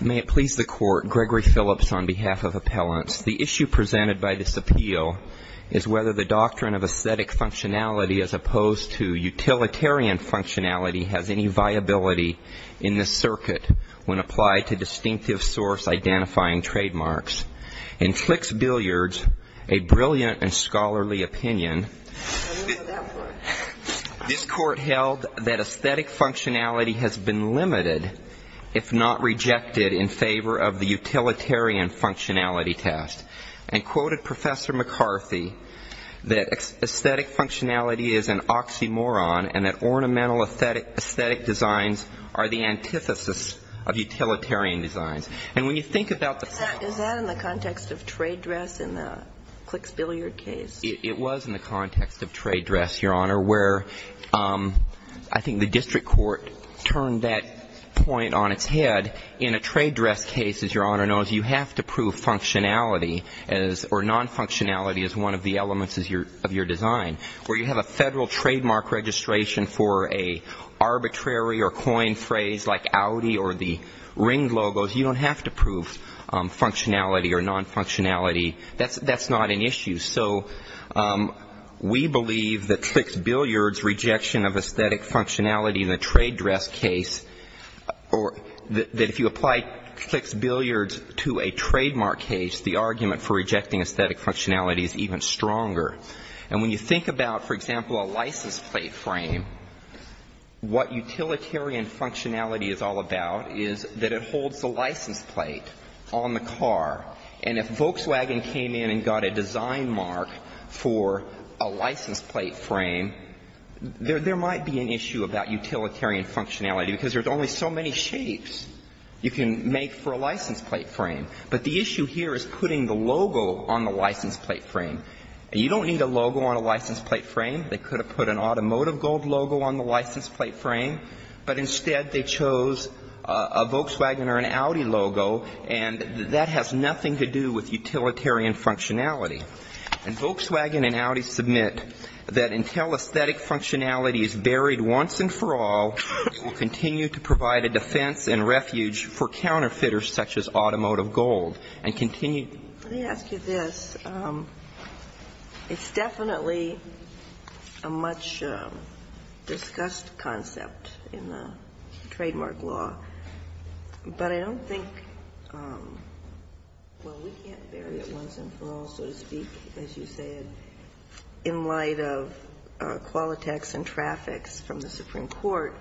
May it please the Court, Gregory Phillips on behalf of Appellants. The issue presented by this appeal is whether the doctrine of aesthetic functionality as opposed to utilitarian functionality has any viability in this circuit when applied to distinctive source-identifying trademarks. In Flick's billiards, a brilliant and scholarly opinion, this Court held that functionality has been limited if not rejected in favor of the utilitarian functionality test and quoted Professor McCarthy that aesthetic functionality is an oxymoron and that ornamental aesthetic designs are the antithesis of utilitarian designs. And when you think about the fact Is that in the context of trade dress in the Flick's billiard case? It was in the context of trade dress, Your Honor, where I think the district court turned that point on its head. In a trade dress case, as Your Honor knows, you have to prove functionality or non-functionality as one of the elements of your design. Where you have a federal trademark registration for an arbitrary or coin phrase like Audi or the Ring logos, you don't have to prove functionality or non-functionality. That's not an issue. So we believe that Flick's billiards' rejection of aesthetic functionality in a trade dress case or that if you apply Flick's billiards to a trademark case, the argument for rejecting aesthetic functionality is even stronger. And when you think about, for example, a license plate frame, what utilitarian functionality is all about is that it holds the license plate on the car. And if Volkswagen came in and got a design mark for a license plate frame, there might be an issue about utilitarian functionality, because there's only so many shapes you can make for a license plate frame. But the issue here is putting the logo on the license plate frame. And you don't need a logo on a license plate frame. They could have put an automotive gold logo on the license plate frame, but instead they chose a Volkswagen or an Audi logo, and that has nothing to do with utilitarian functionality. And Volkswagen and Audi submit that until aesthetic functionality is buried once and for all, we'll continue to provide a defense and refuge for counterfeiters such as automotive gold, and continue to do so. But I don't think, well, we can't bury it once and for all, so to speak, as you said, in light of Qualitex and Trafix from the Supreme Court,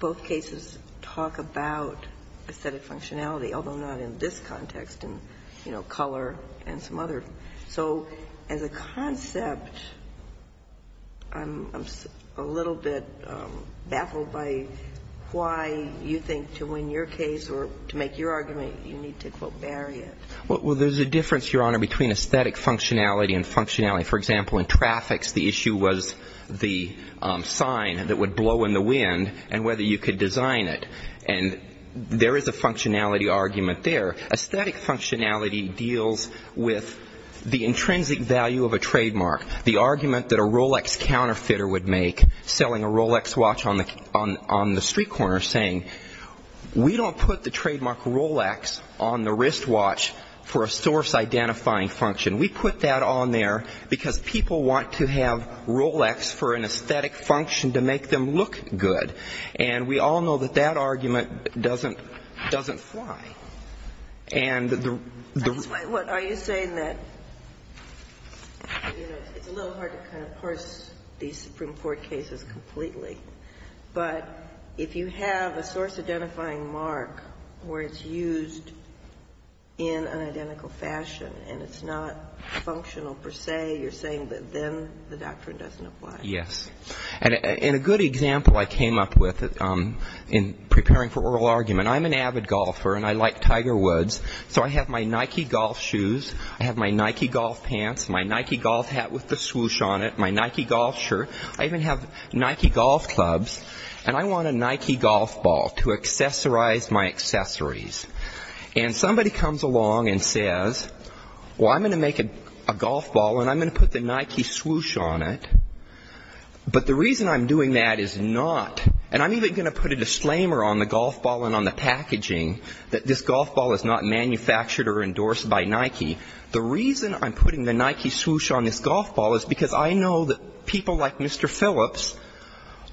both cases talk about aesthetic functionality, although not in this context, in, you know, color and some other. So as a concept, I'm a little bit baffled by why you think to win your case or to make your argument, you need to, quote, bury it. Well, there's a difference, Your Honor, between aesthetic functionality and functionality. For example, in Trafix, the issue was the sign that would blow in the wind and whether you could design it. And there is a functionality argument there. Aesthetic functionality deals with the intrinsic value of a trademark, the argument that a Rolex counterfeiter would make selling a Rolex watch on the street corner, saying, we don't put the trademark Rolex on the wristwatch for a source-identifying function. We put that on there because people want to have Rolex for an aesthetic function to make them look good. And we all know that that argument doesn't fly. And the ‑‑ That's why, what, are you saying that, you know, it's a little hard to kind of parse these Supreme Court cases completely, but if you have a source-identifying mark where it's used in an identical fashion and it's not functional per se, you're saying that then the doctrine doesn't apply. Yes. And a good example I came up with in preparing for oral argument, I'm an avid golfer and I like Tiger Woods, so I have my Nike golf shoes, I have my Nike golf pants, my Nike golf hat with the swoosh on it, my Nike golf shirt, I even have Nike golf clubs, and I want a Nike golf ball to accessorize my accessories. And somebody comes along and says, well, I'm going to make a golf ball and I'm going to put the Nike swoosh on it, but the reason I'm doing that is not, and I'm even going to put a disclaimer on the golf ball and on the packaging that this golf ball is not manufactured or endorsed by Nike, the reason I'm putting the Nike swoosh on this golf ball is because I know that people like Mr. Phillips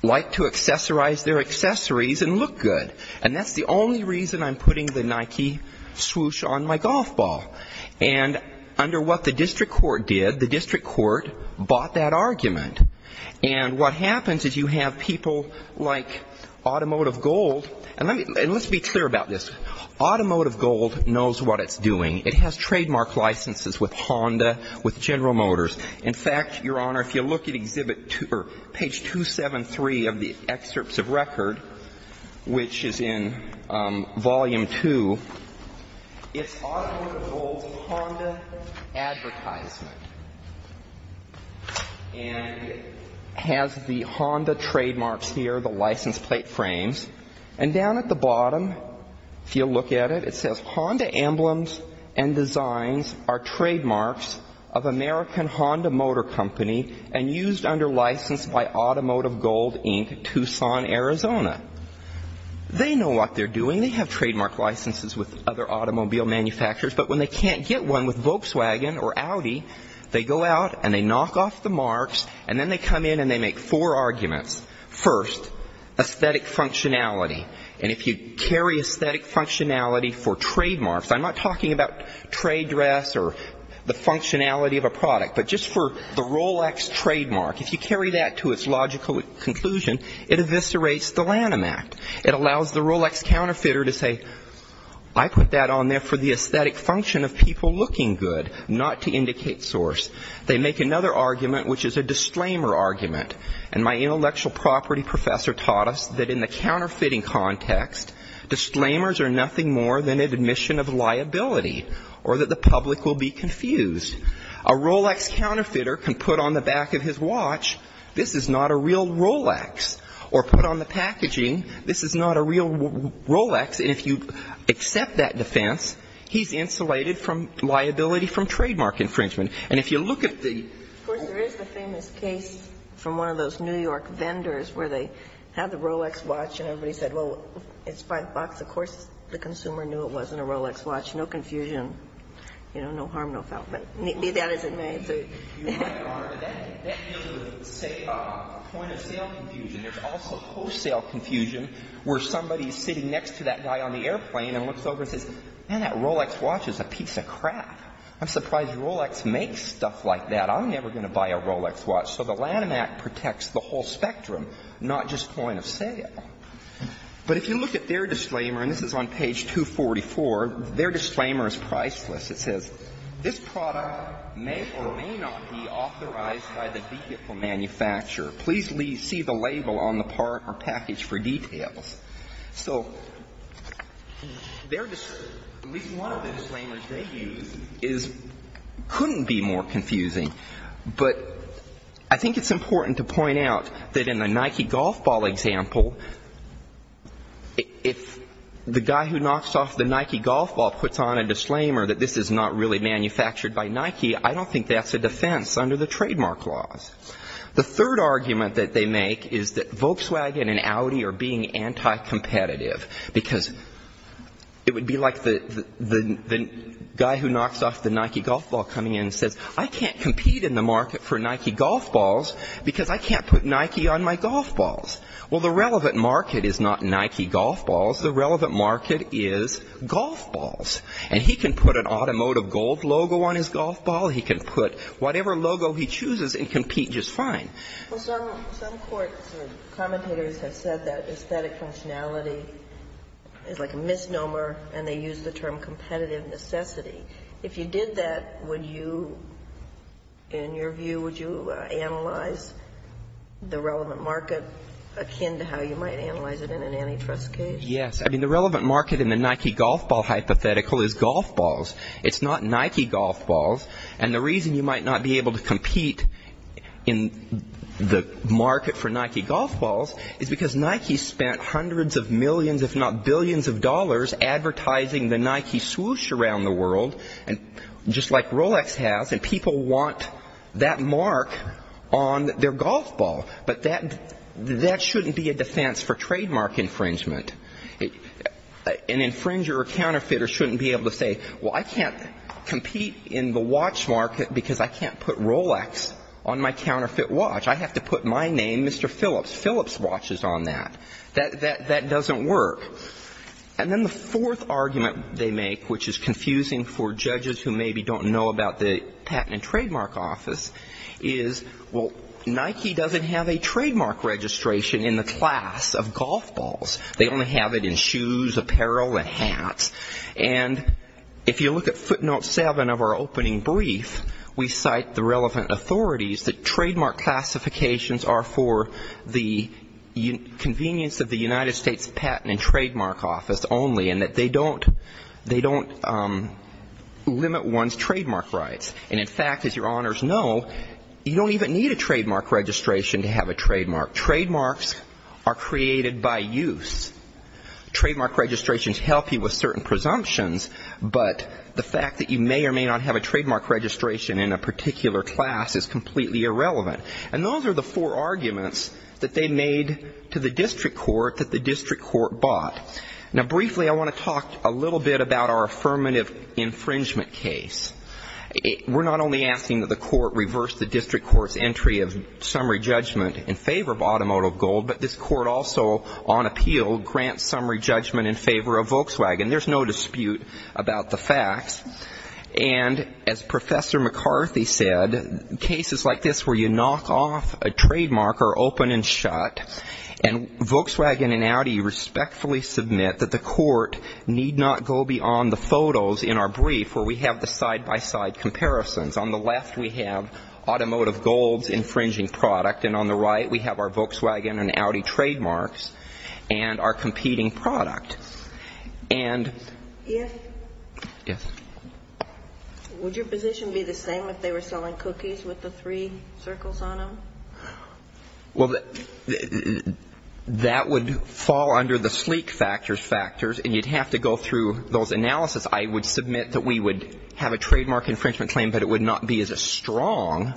like to accessorize their accessories and look good. And that's the only reason I'm putting the Nike swoosh on my golf ball. And under what the district court did, the district court bought that argument. And what happens is you have people like Automotive Gold, and let's be clear about this, Automotive Gold knows what it's doing. It has trademark licenses with Honda, with General Motors. In fact, Your Honor, if you look at exhibit two or page 273 of the excerpts of record, which is in volume two, it's Automotive Gold's Honda advertisement. And it has the Honda trademarks here, the license plate frames. And down at the bottom, if you look at it, it says, Honda emblems and designs are trademarks of American Honda Motor Company and used under license by Automotive Gold, Inc., Tucson, Arizona. They know what they're doing. They have trademark licenses with other automobile manufacturers, but when they can't get one with Volkswagen or Audi, they go out and they knock off the marks, and then they come in and they make four arguments. First, aesthetic functionality, and if you carry aesthetic functionality for trademarks, I'm not talking about trade dress or the functionality of a product, but just for the Rolex trademark, if you carry that to its logical conclusion, it eviscerates the Lanham Act. It allows the Rolex counterfeiter to say, I put that on there for the aesthetic function of people looking good, not to indicate source. They make another argument, which is a disclaimer argument. And my intellectual property professor taught us that in the counterfeiting context, disclaimers are nothing more than an admission of liability or that the public will be confused. A Rolex counterfeiter can put on the back of his watch, this is not a real Rolex, or put on the packaging, this is not a real Rolex. And if you accept that defense, he's insulated from liability from trademark infringement. And if you look at the- Of course, there is the famous case from one of those New York vendors where they had the Rolex watch and everybody said, well, it's five bucks. Of course, the consumer knew it wasn't a Rolex watch, no confusion, no harm, no fault, but that isn't my answer. You're right, Your Honor, but that deals with, say, point-of-sale confusion. There's also wholesale confusion where somebody is sitting next to that guy on the airplane and looks over and says, man, that Rolex watch is a piece of crap. I'm surprised Rolex makes stuff like that. I'm never going to buy a Rolex watch. So the Lanham Act protects the whole spectrum, not just point of sale. But if you look at their disclaimer, and this is on page 244, their disclaimer is priceless. It says, this product may or may not be authorized by the vehicle manufacturer. Please see the label on the part or package for details. So at least one of the disclaimers they use couldn't be more confusing. But I think it's important to point out that in the Nike golf ball example, if the guy who knocks off the Nike golf ball puts on a disclaimer that this is not really manufactured by Nike, I don't think that's a defense under the trademark laws. The third argument that they make is that Volkswagen and Audi are being anti-competitive. Because it would be like the guy who knocks off the Nike golf ball coming in and says, I can't compete in the market for Nike golf balls, because I can't put Nike on my golf balls. Well, the relevant market is not Nike golf balls. The relevant market is golf balls. And he can put an automotive gold logo on his golf ball. He can put whatever logo he chooses and compete just fine. Well, some courts and commentators have said that aesthetic functionality is like a misnomer, and they use the term competitive necessity. If you did that, would you, in your view, would you analyze the relevant market akin to how you might analyze it in an antitrust case? Yes. I mean, the relevant market in the Nike golf ball hypothetical is golf balls. It's not Nike golf balls. And the reason you might not be able to compete in the market for Nike golf balls is because Nike spent hundreds of millions, if not billions of dollars, advertising the Nike swoosh around the world, just like Rolex has. And people want that mark on their golf ball. But that shouldn't be a defense for trademark infringement. An infringer or counterfeiter shouldn't be able to say, well, I can't compete in the watch market because I can't put Rolex on my counterfeit watch. I have to put my name, Mr. Phillips, Phillips watches on that. That doesn't work. And then the fourth argument they make, which is confusing for judges who maybe don't know about the Patent and Trademark Office, is, well, Nike doesn't have a trademark registration in the class of golf balls. They only have it in shoes, apparel, and hats. And if you look at footnote seven of our opening brief, we cite the relevant authorities that trademark classifications are for the convenience of the United States Patent and Trademark Office only and that they don't limit one's trademark rights. And in fact, as your honors know, you don't even need a trademark registration to have a trademark. Trademarks are created by use. Trademark registrations help you with certain presumptions, but the fact that you may or may not have a trademark registration in a particular class is completely irrelevant. And those are the four arguments that they made to the district court that the district court bought. Now, briefly, I want to talk a little bit about our affirmative infringement case. We're not only asking that the court reverse the district court's entry of summary judgment in favor of automotile gold, but this court also, on appeal, grants summary judgment in favor of Volkswagen. There's no dispute about the facts. And as Professor McCarthy said, cases like this where you knock off a trademark are open and shut, and Volkswagen and Audi respectfully submit that the court need not go beyond the photos in our brief where we have the side-by-side comparisons. On the left, we have automotive gold's infringing product, and on the right, we have our Volkswagen and Audi trademarks and our competing product. And... Yes? Yes. Would your position be the same if they were selling cookies with the three circles on them? Well, that would fall under the sleek factors factors, and you'd have to go through those analysis. I would submit that we would have a trademark infringement claim, but it would not be as strong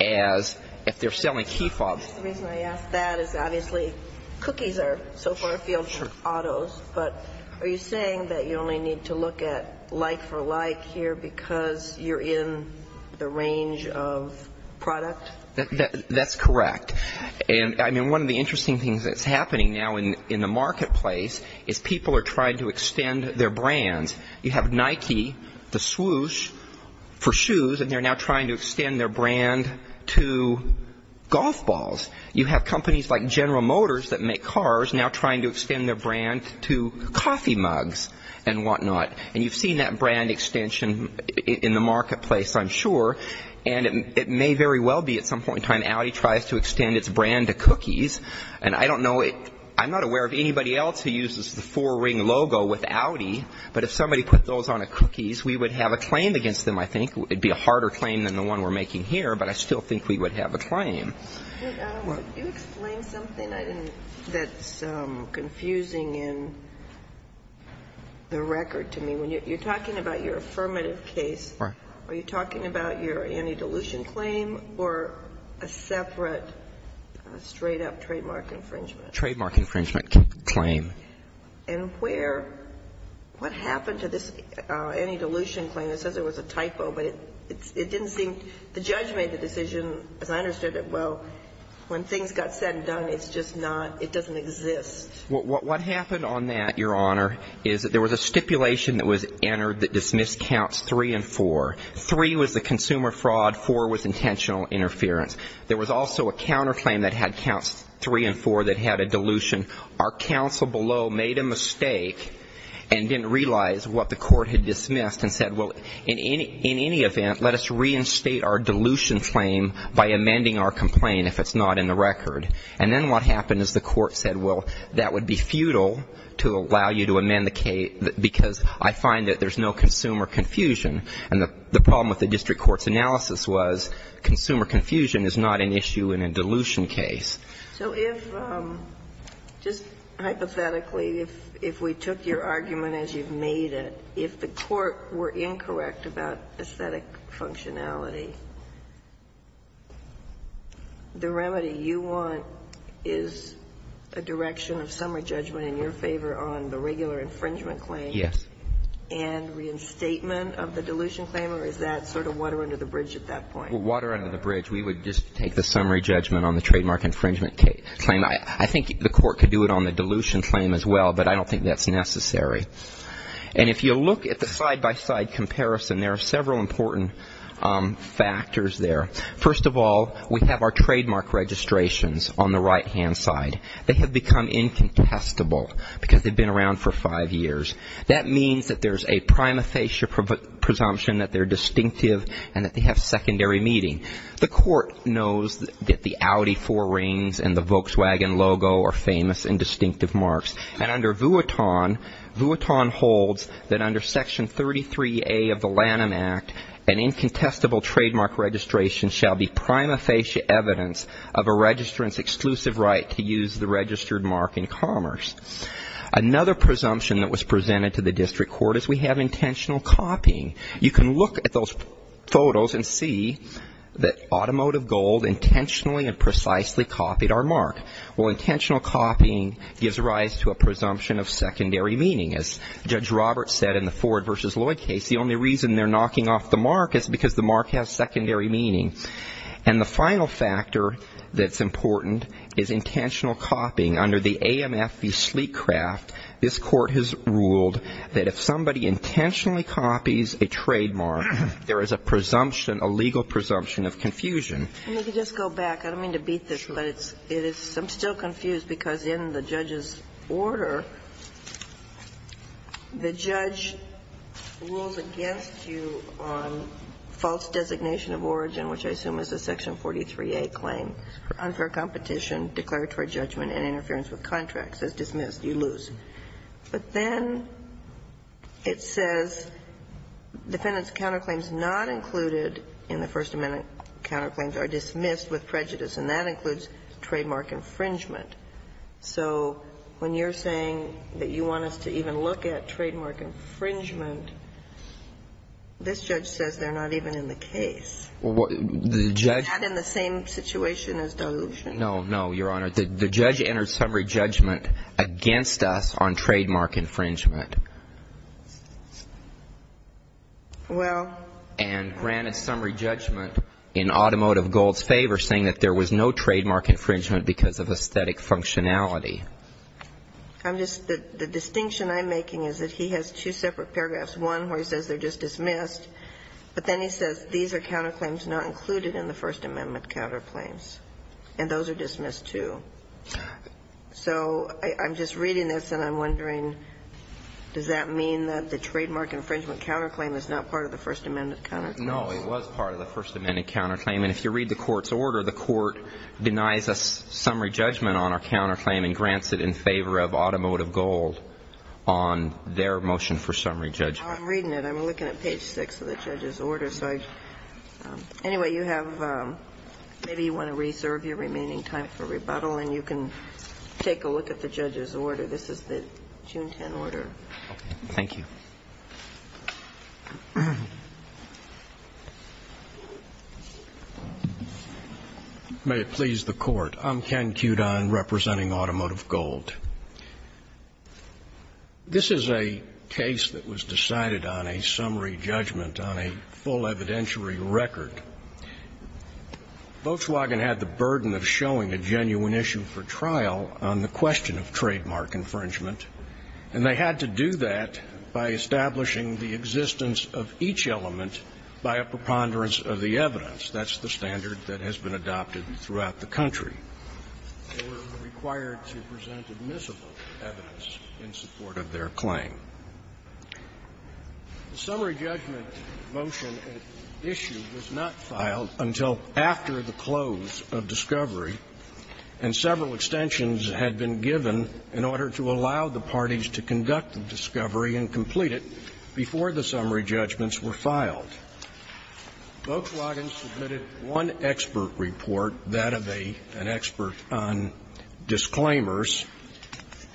as if they're selling key fobs. The reason I ask that is obviously cookies are so far afield from autos, but are you saying that you only need to look at like for like here because you're in the range of product? That's correct. And, I mean, one of the interesting things that's happening now in the marketplace is people are trying to extend their brands. You have Nike, the swoosh for shoes, and they're now trying to extend their brand to golf balls. You have companies like General Motors that make cars now trying to extend their brand to coffee mugs and whatnot. And you've seen that brand extension in the marketplace, I'm sure, and it may very well be at some point in time Audi tries to extend its brand to cookies, and I don't know it. I'm not aware of anybody else who uses the four-ring logo with Audi, but if somebody put those on a cookies, we would have a claim against them, I think. It would be a harder claim than the one we're making here, but I still think we would have a claim. Could you explain something that's confusing in the record to me? When you're talking about your affirmative case, are you talking about your anti-dilution claim or a separate straight-up trademark infringement? Trademark infringement claim. And where? What happened to this anti-dilution claim? It says it was a typo, but it didn't seem the judge made the decision, as I understood it, well, when things got said and done, it's just not, it doesn't exist. What happened on that, Your Honor, is that there was a stipulation that was entered that dismissed counts three and four. Three was the consumer fraud. Four was intentional interference. There was also a counterclaim that had counts three and four that had a dilution. Our counsel below made a mistake and didn't realize what the court had dismissed and said, well, in any event, let us reinstate our dilution claim by amending our complaint, if it's not in the record. And then what happened is the court said, well, that would be futile to allow you to amend the case because I find that there's no consumer confusion. And the problem with the district court's analysis was consumer confusion is not an issue in a dilution case. So if, just hypothetically, if we took your argument as you've made it, if the court were incorrect about aesthetic functionality, the remedy you want is a direction of summary judgment in your favor on the regular infringement claim. Yes. And reinstatement of the dilution claim, or is that sort of water under the bridge at that point? Water under the bridge. We would just take the summary judgment on the trademark infringement claim. I think the court could do it on the dilution claim as well, but I don't think that's necessary. And if you look at the side-by-side comparison, there are several important factors there. First of all, we have our trademark registrations on the right-hand side. They have become incontestable because they've been around for five years. That means that there's a prima facie presumption that they're distinctive and that they have secondary meaning. The court knows that the Audi four rings and the Volkswagen logo are famous and distinctive marks. And under Vuitton, Vuitton holds that under Section 33A of the Lanham Act, an incontestable trademark registration shall be prima facie evidence of a registrant's exclusive right to use the registered mark in commerce. Another presumption that was presented to the district court is we have intentional copying. You can look at those photos and see that Automotive Gold intentionally and precisely copied our mark. Well, intentional copying gives rise to a presumption of secondary meaning. As Judge Roberts said in the Ford v. Lloyd case, the only reason they're knocking off the mark is because the mark has secondary meaning. And the final factor that's important is intentional copying. Under the AMF v. Sleetcraft, this Court has ruled that if somebody intentionally copies a trademark, there is a presumption, a legal presumption of confusion. And you can just go back. I don't mean to beat this, but it's – I'm still confused because in the judge's order, the judge rules against you on false designation of origin, which I assume is a Section 43A claim for unfair competition, declaratory judgment and interference with contracts. It says dismissed. You lose. But then it says defendant's counterclaims not included in the First Amendment counterclaims are dismissed with prejudice, and that includes trademark infringement. So when you're saying that you want us to even look at trademark infringement, this judge says they're not even in the case. The judge – Is that in the same situation as dilution? No, no, Your Honor. The judge entered summary judgment against us on trademark infringement. Well – And granted summary judgment in automotive gold's favor, saying that there was no trademark infringement because of aesthetic functionality. I'm just – the distinction I'm making is that he has two separate paragraphs, one where he says they're just dismissed, but then he says these are counterclaims not included in the First Amendment counterclaims, and those are dismissed too. So I'm just reading this, and I'm wondering, does that mean that the trademark infringement counterclaim is not part of the First Amendment counterclaim? No, it was part of the First Amendment counterclaim. And if you read the court's order, the court denies a summary judgment on our counterclaim and grants it in favor of automotive gold on their motion for summary judgment. I'm reading it. I'm looking at page 6 of the judge's order. So anyway, you have – maybe you want to reserve your remaining time for rebuttal, and you can take a look at the judge's order. This is the June 10 order. Thank you. May it please the Court. I'm Ken Cudon representing Automotive Gold. This is a case that was decided on a summary judgment on a full evidentiary record. Volkswagen had the burden of showing a genuine issue for trial on the question of trademark infringement, and they had to do that by establishing the existence of each element by a preponderance of the evidence. That's the standard that has been adopted throughout the country. They were required to present admissible evidence in support of their claim. The summary judgment motion issue was not filed until after the close of discovery, and several extensions had been given in order to allow the parties to conduct the discovery and complete it before the summary judgments were filed. And Volkswagen submitted one expert report, that of an expert on disclaimers,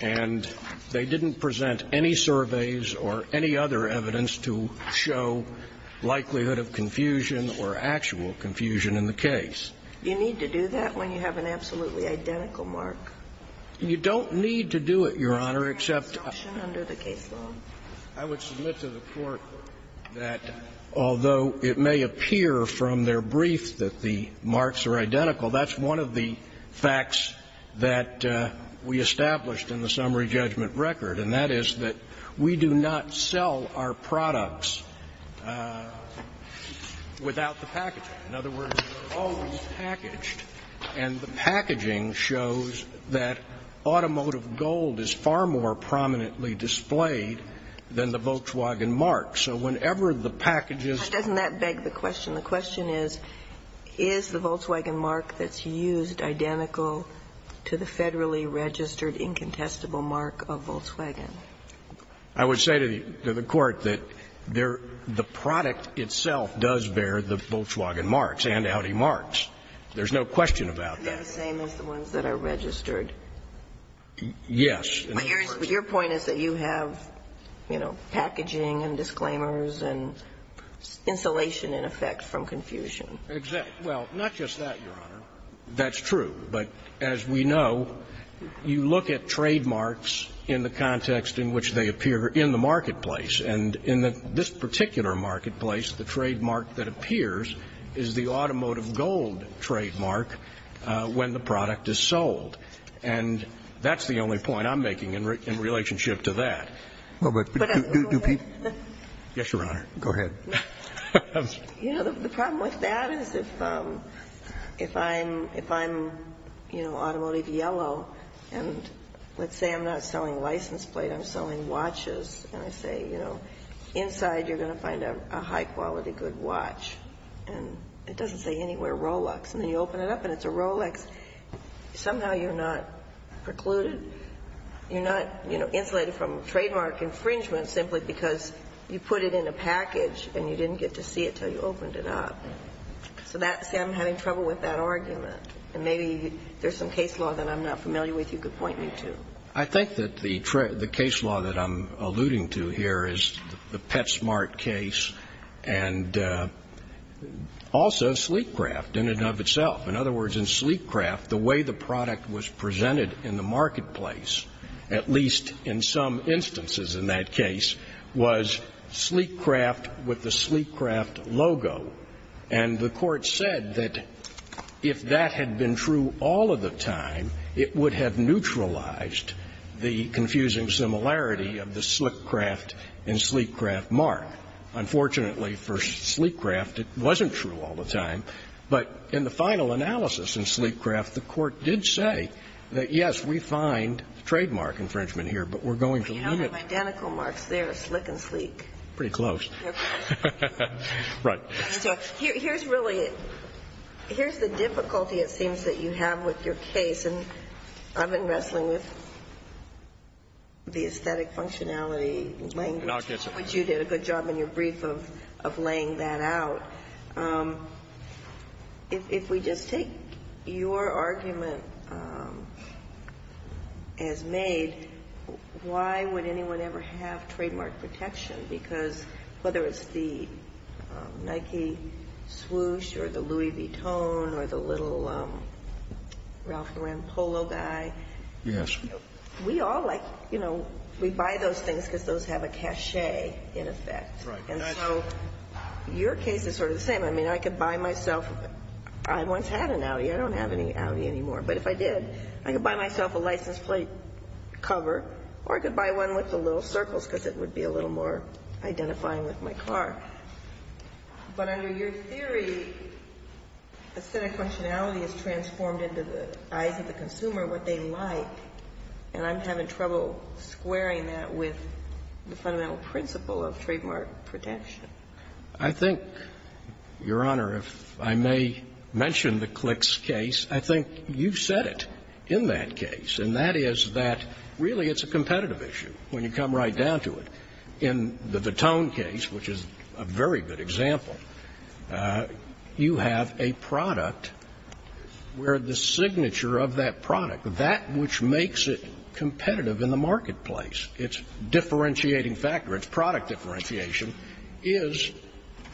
and they didn't present any surveys or any other evidence to show likelihood of confusion or actual confusion in the case. You need to do that when you have an absolutely identical mark? You don't need to do it, Your Honor, except under the case law. I would submit to the Court that although it may appear from their brief that the marks are identical, that's one of the facts that we established in the summary judgment record, and that is that we do not sell our products without the packaging. In other words, they're always packaged, and the packaging shows that automotive gold is far more prominently displayed than the Volkswagen mark. So whenever the package is used. But doesn't that beg the question? The question is, is the Volkswagen mark that's used identical to the federally registered incontestable mark of Volkswagen? I would say to the Court that the product itself does bear the Volkswagen marks and Audi marks. There's no question about that. Are they the same as the ones that are registered? Yes. Your point is that you have, you know, packaging and disclaimers and insulation in effect from confusion. Exactly. Well, not just that, Your Honor. That's true. But as we know, you look at trademarks in the context in which they appear in the marketplace, and in this particular marketplace, the trademark that appears is the automotive gold trademark when the product is sold. And that's the only point I'm making in relationship to that. Yes, Your Honor. Go ahead. You know, the problem with that is if I'm, you know, automotive yellow, and let's say I'm not selling license plate, I'm selling watches, and I say, you know, inside you're going to find a high quality good watch. And it doesn't say anywhere Rolex. And then you open it up and it's a Rolex. Somehow you're not precluded. You're not, you know, insulated from trademark infringement simply because you put it in a package and you didn't get to see it until you opened it up. So that's why I'm having trouble with that argument. And maybe there's some case law that I'm not familiar with you could point me to. I think that the case law that I'm alluding to here is the PetSmart case and also Sleek Craft in and of itself. In other words, in Sleek Craft, the way the product was presented in the marketplace, at least in some instances in that case, was Sleek Craft with the Sleek Craft logo. And the court said that if that had been true all of the time, it would have neutralized the confusing similarity of the Sleek Craft and Sleek Craft mark. Unfortunately, for Sleek Craft, it wasn't true all the time. But in the final analysis in Sleek Craft, the court did say that, yes, we find trademark infringement here, but we're going to limit it. We don't have identical marks there, Slick and Sleek. Pretty close. Right. So here's really the difficulty, it seems, that you have with your case. And I've been wrestling with the aesthetic functionality language, which you did a good job in your brief of laying that out. If we just take your argument as made, why would anyone ever have trademark protection? Because whether it's the Nike swoosh or the Louis Vuitton or the little Ralph Rampolo guy, we all like, you know, we buy those things because those have a cachet in effect. Right. And so your case is sort of the same. I mean, I could buy myself, I once had an Audi. I don't have any Audi anymore. But if I did, I could buy myself a license plate cover or I could buy one with the little circles because it would be a little more identifying with my car. But under your theory, aesthetic functionality is transformed into the eyes of the consumer, what they like, and I'm having trouble squaring that with the fundamental principle of trademark protection. I think, Your Honor, if I may mention the Clicks case, I think you've said it in that case, and that is that really it's a competitive issue when you come right down to it. In the Vuitton case, which is a very good example, you have a product where the signature of that product, that which makes it competitive in the marketplace, its differentiating factor, its product differentiation, is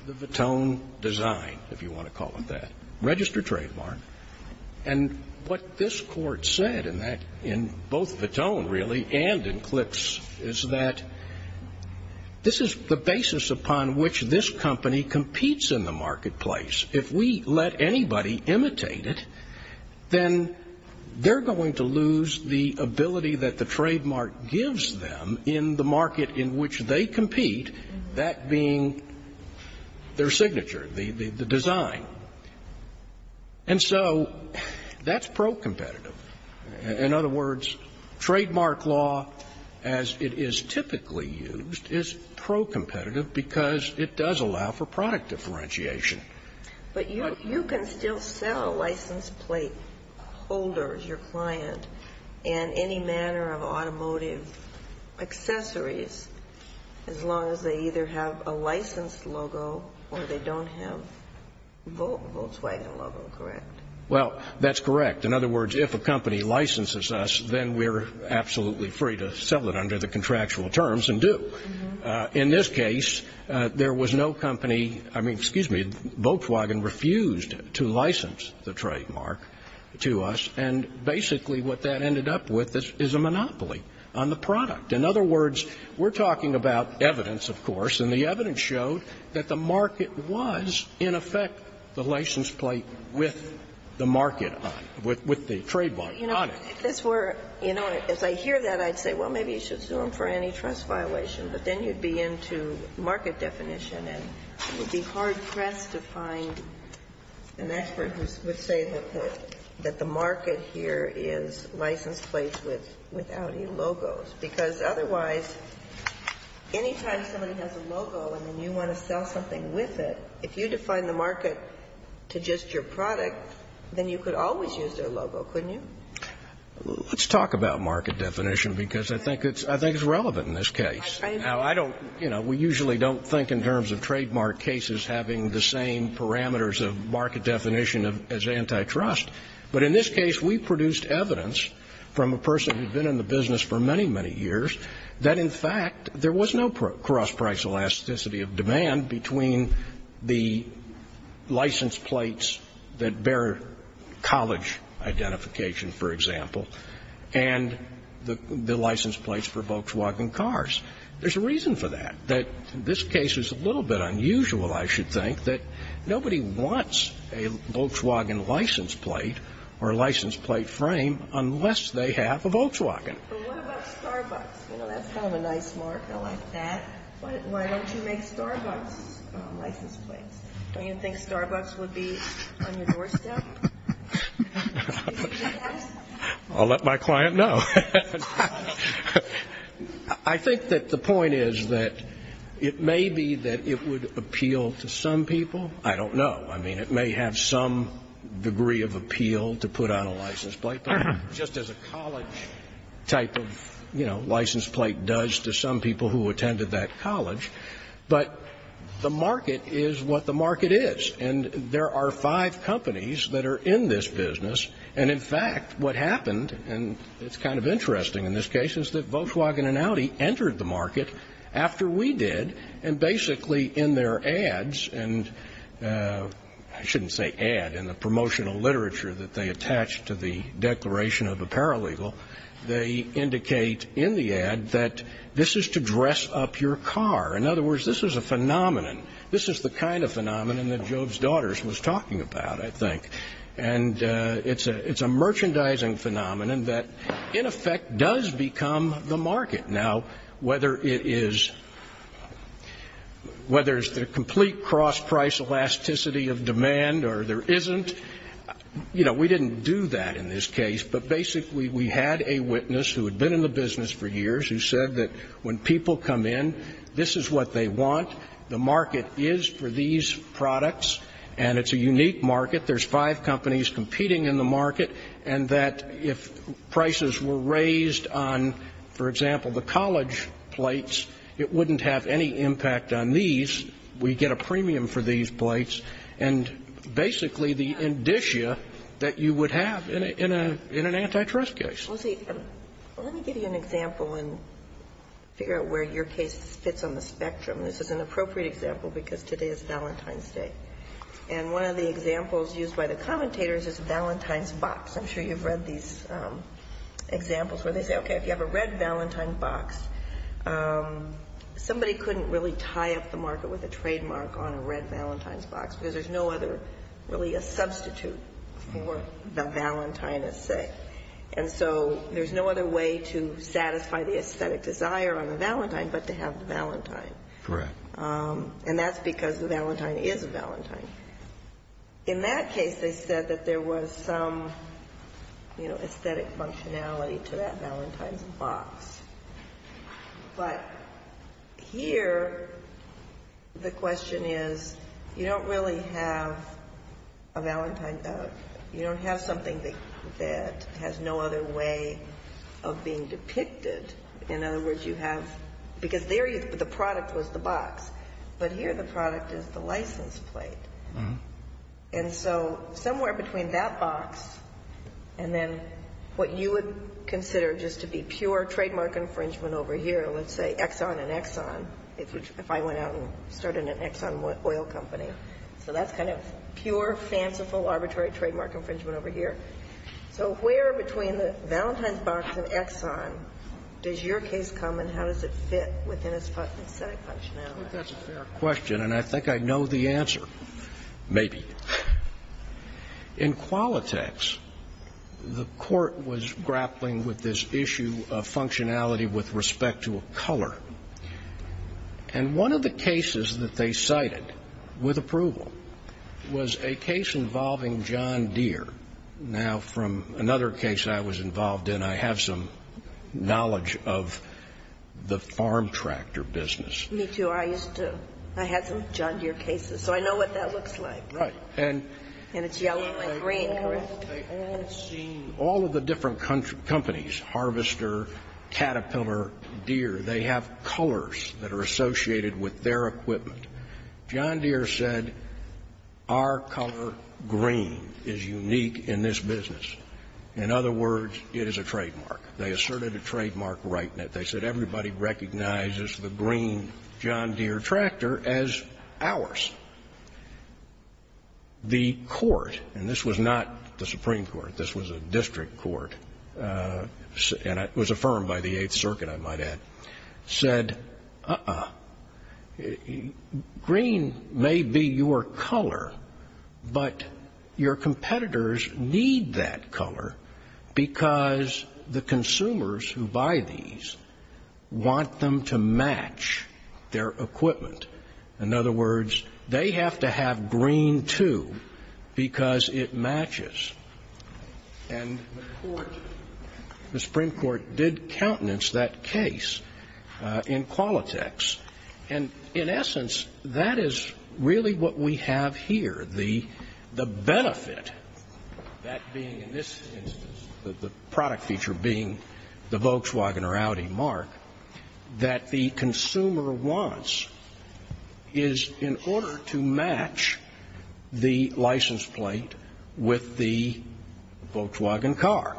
the Vuitton design, if you want to call it that, registered trademark. And what this Court said in both Vuitton, really, and in Clicks is that this is the basis upon which this company competes in the marketplace. If we let anybody imitate it, then they're going to lose the ability that the trademark gives them in the market in which they compete, that being their signature, the design. And so that's pro-competitive. In other words, trademark law, as it is typically used, is pro-competitive because it does allow for product differentiation. But you can still sell license plate holders, your client, and any manner of automotive accessories as long as they either have a license logo or they don't have a Volkswagen logo, correct? Well, that's correct. In other words, if a company licenses us, then we're absolutely free to sell it under the contractual terms and do. In this case, there was no company, I mean, excuse me, Volkswagen refused to license the trademark to us, and basically what that ended up with is a monopoly on the product. In other words, we're talking about evidence, of course, and the evidence showed that the market was, in effect, the license plate with the market on it, with the trademark on it. If this were, you know, as I hear that, I'd say, well, maybe you should sue them for any trust violation, but then you'd be into market definition and you'd be hard-pressed to find an expert who would say that the market here is licensed plates with Audi logos, because otherwise, anytime somebody has a logo and then you want to sell something with it, if you define the market to just your product, then you could always use their logo, couldn't you? Let's talk about market definition, because I think it's relevant in this case. Now, I don't, you know, we usually don't think in terms of trademark cases having the same parameters of market definition as antitrust, but in this case, we produced evidence from a person who'd been in the business for many, many years that, in fact, there was no cross-price elasticity of demand between the license plates that bear college identification, for example, and the license plates for Volkswagen cars. There's a reason for that, that this case is a little bit unusual, I should think, that nobody wants a Volkswagen license plate or a license plate frame unless they have a Volkswagen. But what about Starbucks? You know, that's kind of a nice mark. I like that. Why don't you make Starbucks license plates? Don't you think Starbucks would be on your doorstep? I'll let my client know. I think that the point is that it may be that it would appeal to some people. I don't know. I mean, it may have some degree of appeal to put on a license plate, but just as a college type of, you know, license plate does to some people who attended that And there are five companies that are in this business. And, in fact, what happened, and it's kind of interesting in this case, is that Volkswagen and Audi entered the market after we did, and basically in their ads and I shouldn't say ad, in the promotional literature that they attached to the declaration of a paralegal, they indicate in the ad that this is to dress up your car. In other words, this is a phenomenon. This is the kind of phenomenon that Job's Daughters was talking about, I think. And it's a merchandising phenomenon that, in effect, does become the market. Now, whether it is the complete cross-price elasticity of demand or there isn't, you know, we didn't do that in this case, but basically we had a witness who had been in the business for years who said that when people come in, this is what they want, the market is for these products, and it's a unique market. There's five companies competing in the market, and that if prices were raised on, for example, the college plates, it wouldn't have any impact on these. We get a premium for these plates. And basically the indicia that you would have in an antitrust case. Well, see, let me give you an example and figure out where your case fits on the spectrum. This is an appropriate example because today is Valentine's Day. And one of the examples used by the commentators is Valentine's Box. I'm sure you've read these examples where they say, okay, if you have a red Valentine's Box, somebody couldn't really tie up the market with a trademark on a red Valentine's Box because there's no other really a substitute for the Valentine, let's say. And so there's no other way to satisfy the aesthetic desire on the Valentine but to have the Valentine. Correct. And that's because the Valentine is a Valentine. In that case, they said that there was some, you know, aesthetic functionality to that Valentine's Box. But here the question is, you don't really have a Valentine, you don't have something that has no other way of being depicted. In other words, you have, because there the product was the box. But here the product is the license plate. And so somewhere between that box and then what you would consider just to be pure trademark infringement over here, let's say Exxon and Exxon, if I went out and started an Exxon Oil Company. So that's kind of pure, fanciful, arbitrary trademark infringement over here. So where between the Valentine's Box and Exxon does your case come and how does it fit within its aesthetic functionality? Well, that's a fair question, and I think I know the answer. Maybe. In Qualitex, the Court was grappling with this issue of functionality with respect to a color. And one of the cases that they cited with approval was a case involving John Deere. Now, from another case I was involved in, I have some knowledge of the farm tractor business. Me too. I used to. I had some John Deere cases, so I know what that looks like. Right. And it's yellow and green, correct? They all seem, all of the different companies, Harvester, Caterpillar, Deere, they have colors that are associated with their equipment. John Deere said our color green is unique in this business. In other words, it is a trademark. They asserted a trademark right in it. They said everybody recognizes the green John Deere tractor as ours. The Court, and this was not the Supreme Court, this was a district court, and it was affirmed by the Eighth Circuit, I might add, said, uh-uh. Green may be your color, but your competitors need that color because the consumers who buy these want them to match their equipment. In other words, they have to have green, too, because it matches. And the Supreme Court did countenance that case in Qualitex. And in essence, that is really what we have here. The benefit, that being in this instance, the product feature being the Volkswagen or Audi mark that the consumer wants is in order to match the license plate with the Volkswagen car.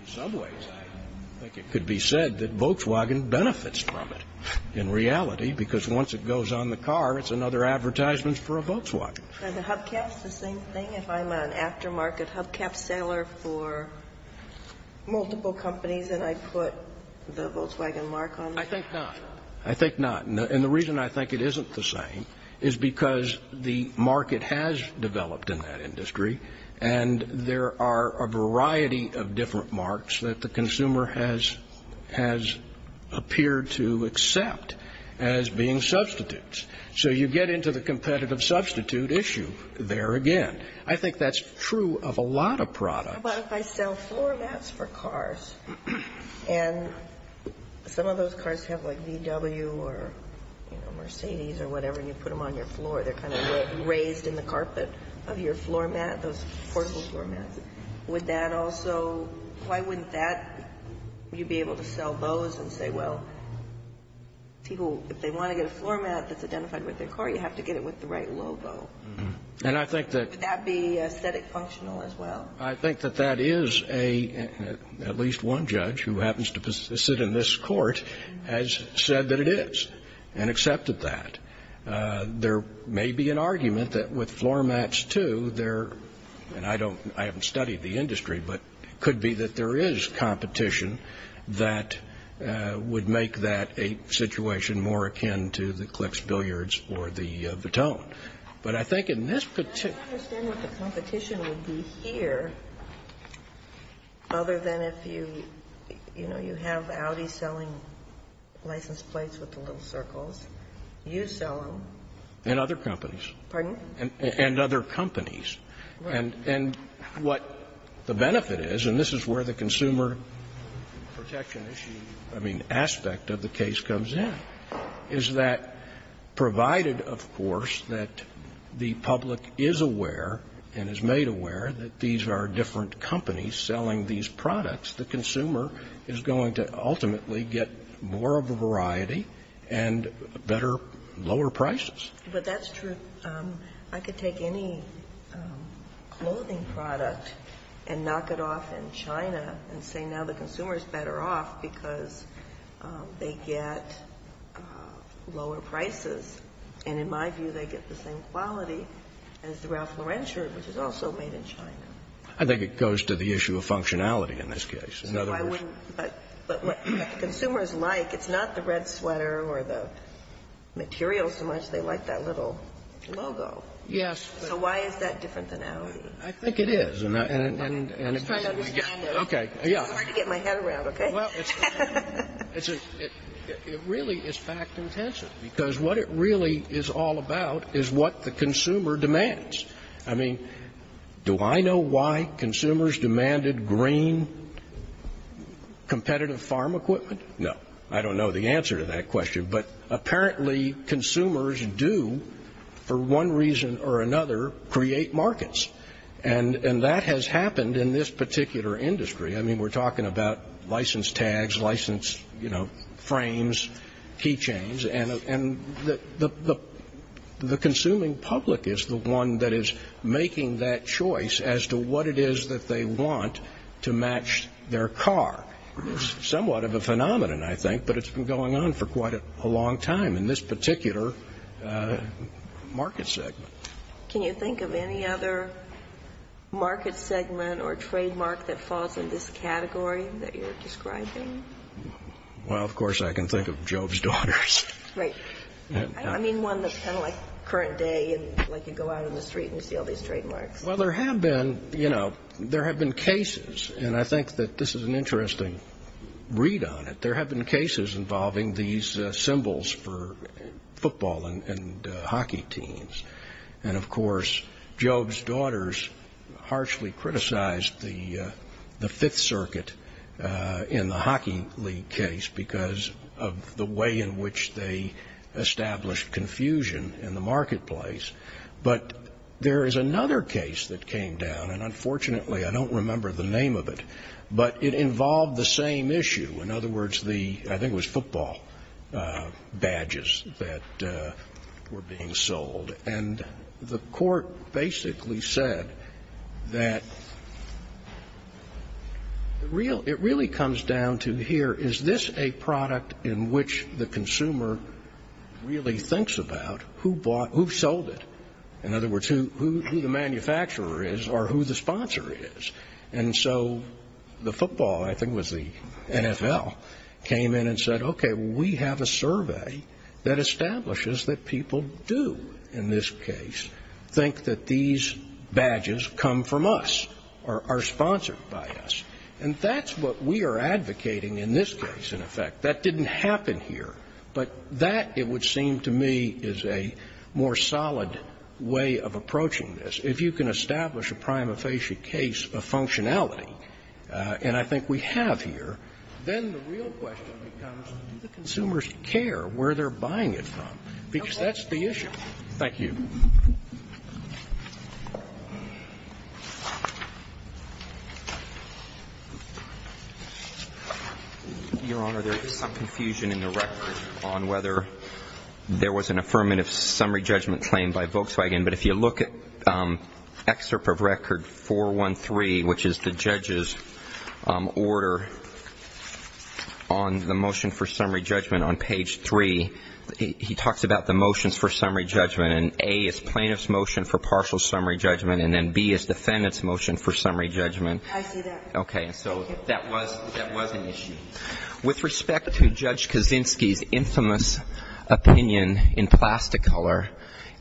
In some ways, I think it could be said that Volkswagen benefits from it. In reality, because once it goes on the car, it's another advertisement for a Volkswagen. And the hubcap's the same thing? If I'm an aftermarket hubcap seller for multiple companies and I put the Volkswagen mark on it? I think not. I think not. And the reason I think it isn't the same is because the market has developed in that industry, and there are a variety of different marks that the consumer has appeared to accept as being substitutes. So you get into the competitive substitute issue there again. I think that's true of a lot of products. But if I sell floor mats for cars, and some of those cars have, like, VW or, you know, Mercedes or whatever, and you put them on your floor, they're kind of raised in the carpet of your floor mat, those portable floor mats, would that also, why wouldn't that, you'd be able to sell those and say, well, people, if they want to get a floor mat that's identified with their car, you have to get it with the right logo. And I think that. Would that be aesthetic functional as well? I think that that is a, at least one judge who happens to sit in this court, has said that it is and accepted that. There may be an argument that with floor mats, too, there, and I don't, I haven't studied the industry, but it could be that there is competition that would make that a situation more akin to the Klicks Billiards or the Vitone. But I think in this particular. I don't understand what the competition would be here other than if you, you know, you have Audi selling license plates with the little circles. You sell them. And other companies. Pardon? And other companies. Right. And what the benefit is, and this is where the consumer protection issue, I mean, aspect of the case comes in, is that provided, of course, that the public is aware and is made aware that these are different companies selling these products, the consumer is going to ultimately get more of a variety and better, lower prices. But that's true. I could take any clothing product and knock it off in China and say now the consumer is better off because they get lower prices. And in my view, they get the same quality as the Ralph Lauren shirt, which is also made in China. I think it goes to the issue of functionality in this case. So I wouldn't. But what consumers like, it's not the red sweater or the material so much. They like that little logo. Yes. So why is that different than Audi? I think it is. I'm just trying to understand this. Okay. It's hard to get my head around, okay? Well, it really is fact intensive. Because what it really is all about is what the consumer demands. I mean, do I know why consumers demanded green competitive farm equipment? No. I don't know the answer to that question. But apparently consumers do, for one reason or another, create markets. And that has happened in this particular industry. I mean, we're talking about license tags, license frames, key chains. And the consuming public is the one that is making that choice as to what it is that they want to match their car. It's somewhat of a phenomenon, I think. But it's been going on for quite a long time in this particular market segment. Can you think of any other market segment or trademark that falls in this category that you're describing? Well, of course I can think of Job's Daughters. Right. I mean, one that's kind of like current day, like you go out in the street and see all these trademarks. Well, there have been, you know, there have been cases. And I think that this is an interesting read on it. There have been cases involving these symbols for football and hockey teams. And, of course, Job's Daughters harshly criticized the Fifth Circuit in the Hockey League case because of the way in which they established confusion in the marketplace. But there is another case that came down. And, unfortunately, I don't remember the name of it. But it involved the same issue. In other words, the, I think it was football badges that were being sold. And the court basically said that it really comes down to here, is this a product in which the consumer really thinks about who bought, who sold it? In other words, who the manufacturer is or who the sponsor is. And so the football, I think it was the NFL, came in and said, okay, we have a survey that establishes that people do, in this case, think that these badges come from us or are sponsored by us. And that's what we are advocating in this case, in effect. That didn't happen here. But that, it would seem to me, is a more solid way of approaching this. If you can establish a prima facie case of functionality, and I think we have here, then the real question becomes, do the consumers care where they're buying it from? Because that's the issue. Thank you. Your Honor, there is some confusion in the record on whether there was an affirmative summary judgment claim by Volkswagen. But if you look at excerpt of record 413, which is the judge's order on the motion for summary judgment on page 3, he talks about the motions for summary judgment. And A is plaintiff's motion for partial summary judgment, and then B is defendant's motion for summary judgment. I see that. Okay. So that was an issue. With respect to Judge Kaczynski's infamous opinion in Plasticolor,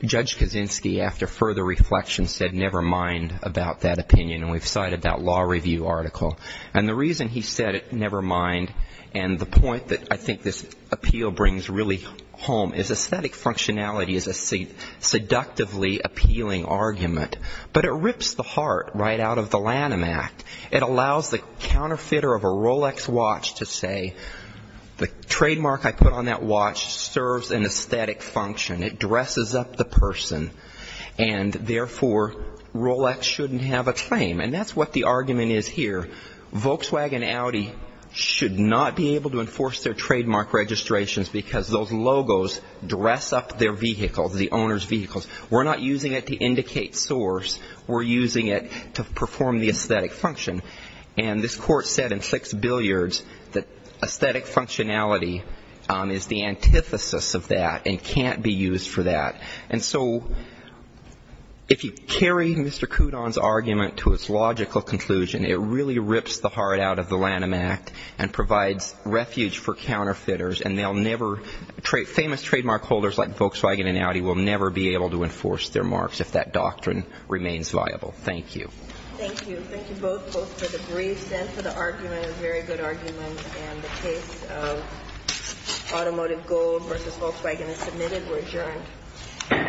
Judge Kaczynski, after further reflection, said, never mind about that opinion. And we've cited that law review article. And the reason he said, never mind, and the point that I think this appeal brings really home, is aesthetic functionality is a seductively appealing argument. But it rips the heart right out of the Lanham Act. It allows the counterfeiter of a Rolex watch to say, the trademark I put on that watch serves an aesthetic function. It dresses up the person. And therefore, Rolex shouldn't have a claim. And that's what the argument is here. Volkswagen and Audi should not be able to enforce their trademark registrations because those logos dress up their vehicles, the owner's vehicles. We're not using it to indicate source. We're using it to perform the aesthetic function. And this Court said in six billiards that aesthetic functionality is the antithesis of that and can't be used for that. And so if you carry Mr. Kudon's argument to its logical conclusion, it really rips the heart out of the Lanham Act and provides refuge for counterfeiters. And they'll never – famous trademark holders like Volkswagen and Audi will never be able to enforce their marks if that doctrine remains viable. Thank you. Thank you. Thank you both, both for the briefs and for the argument, a very good argument. And the case of automotive gold versus Volkswagen is submitted. We're adjourned.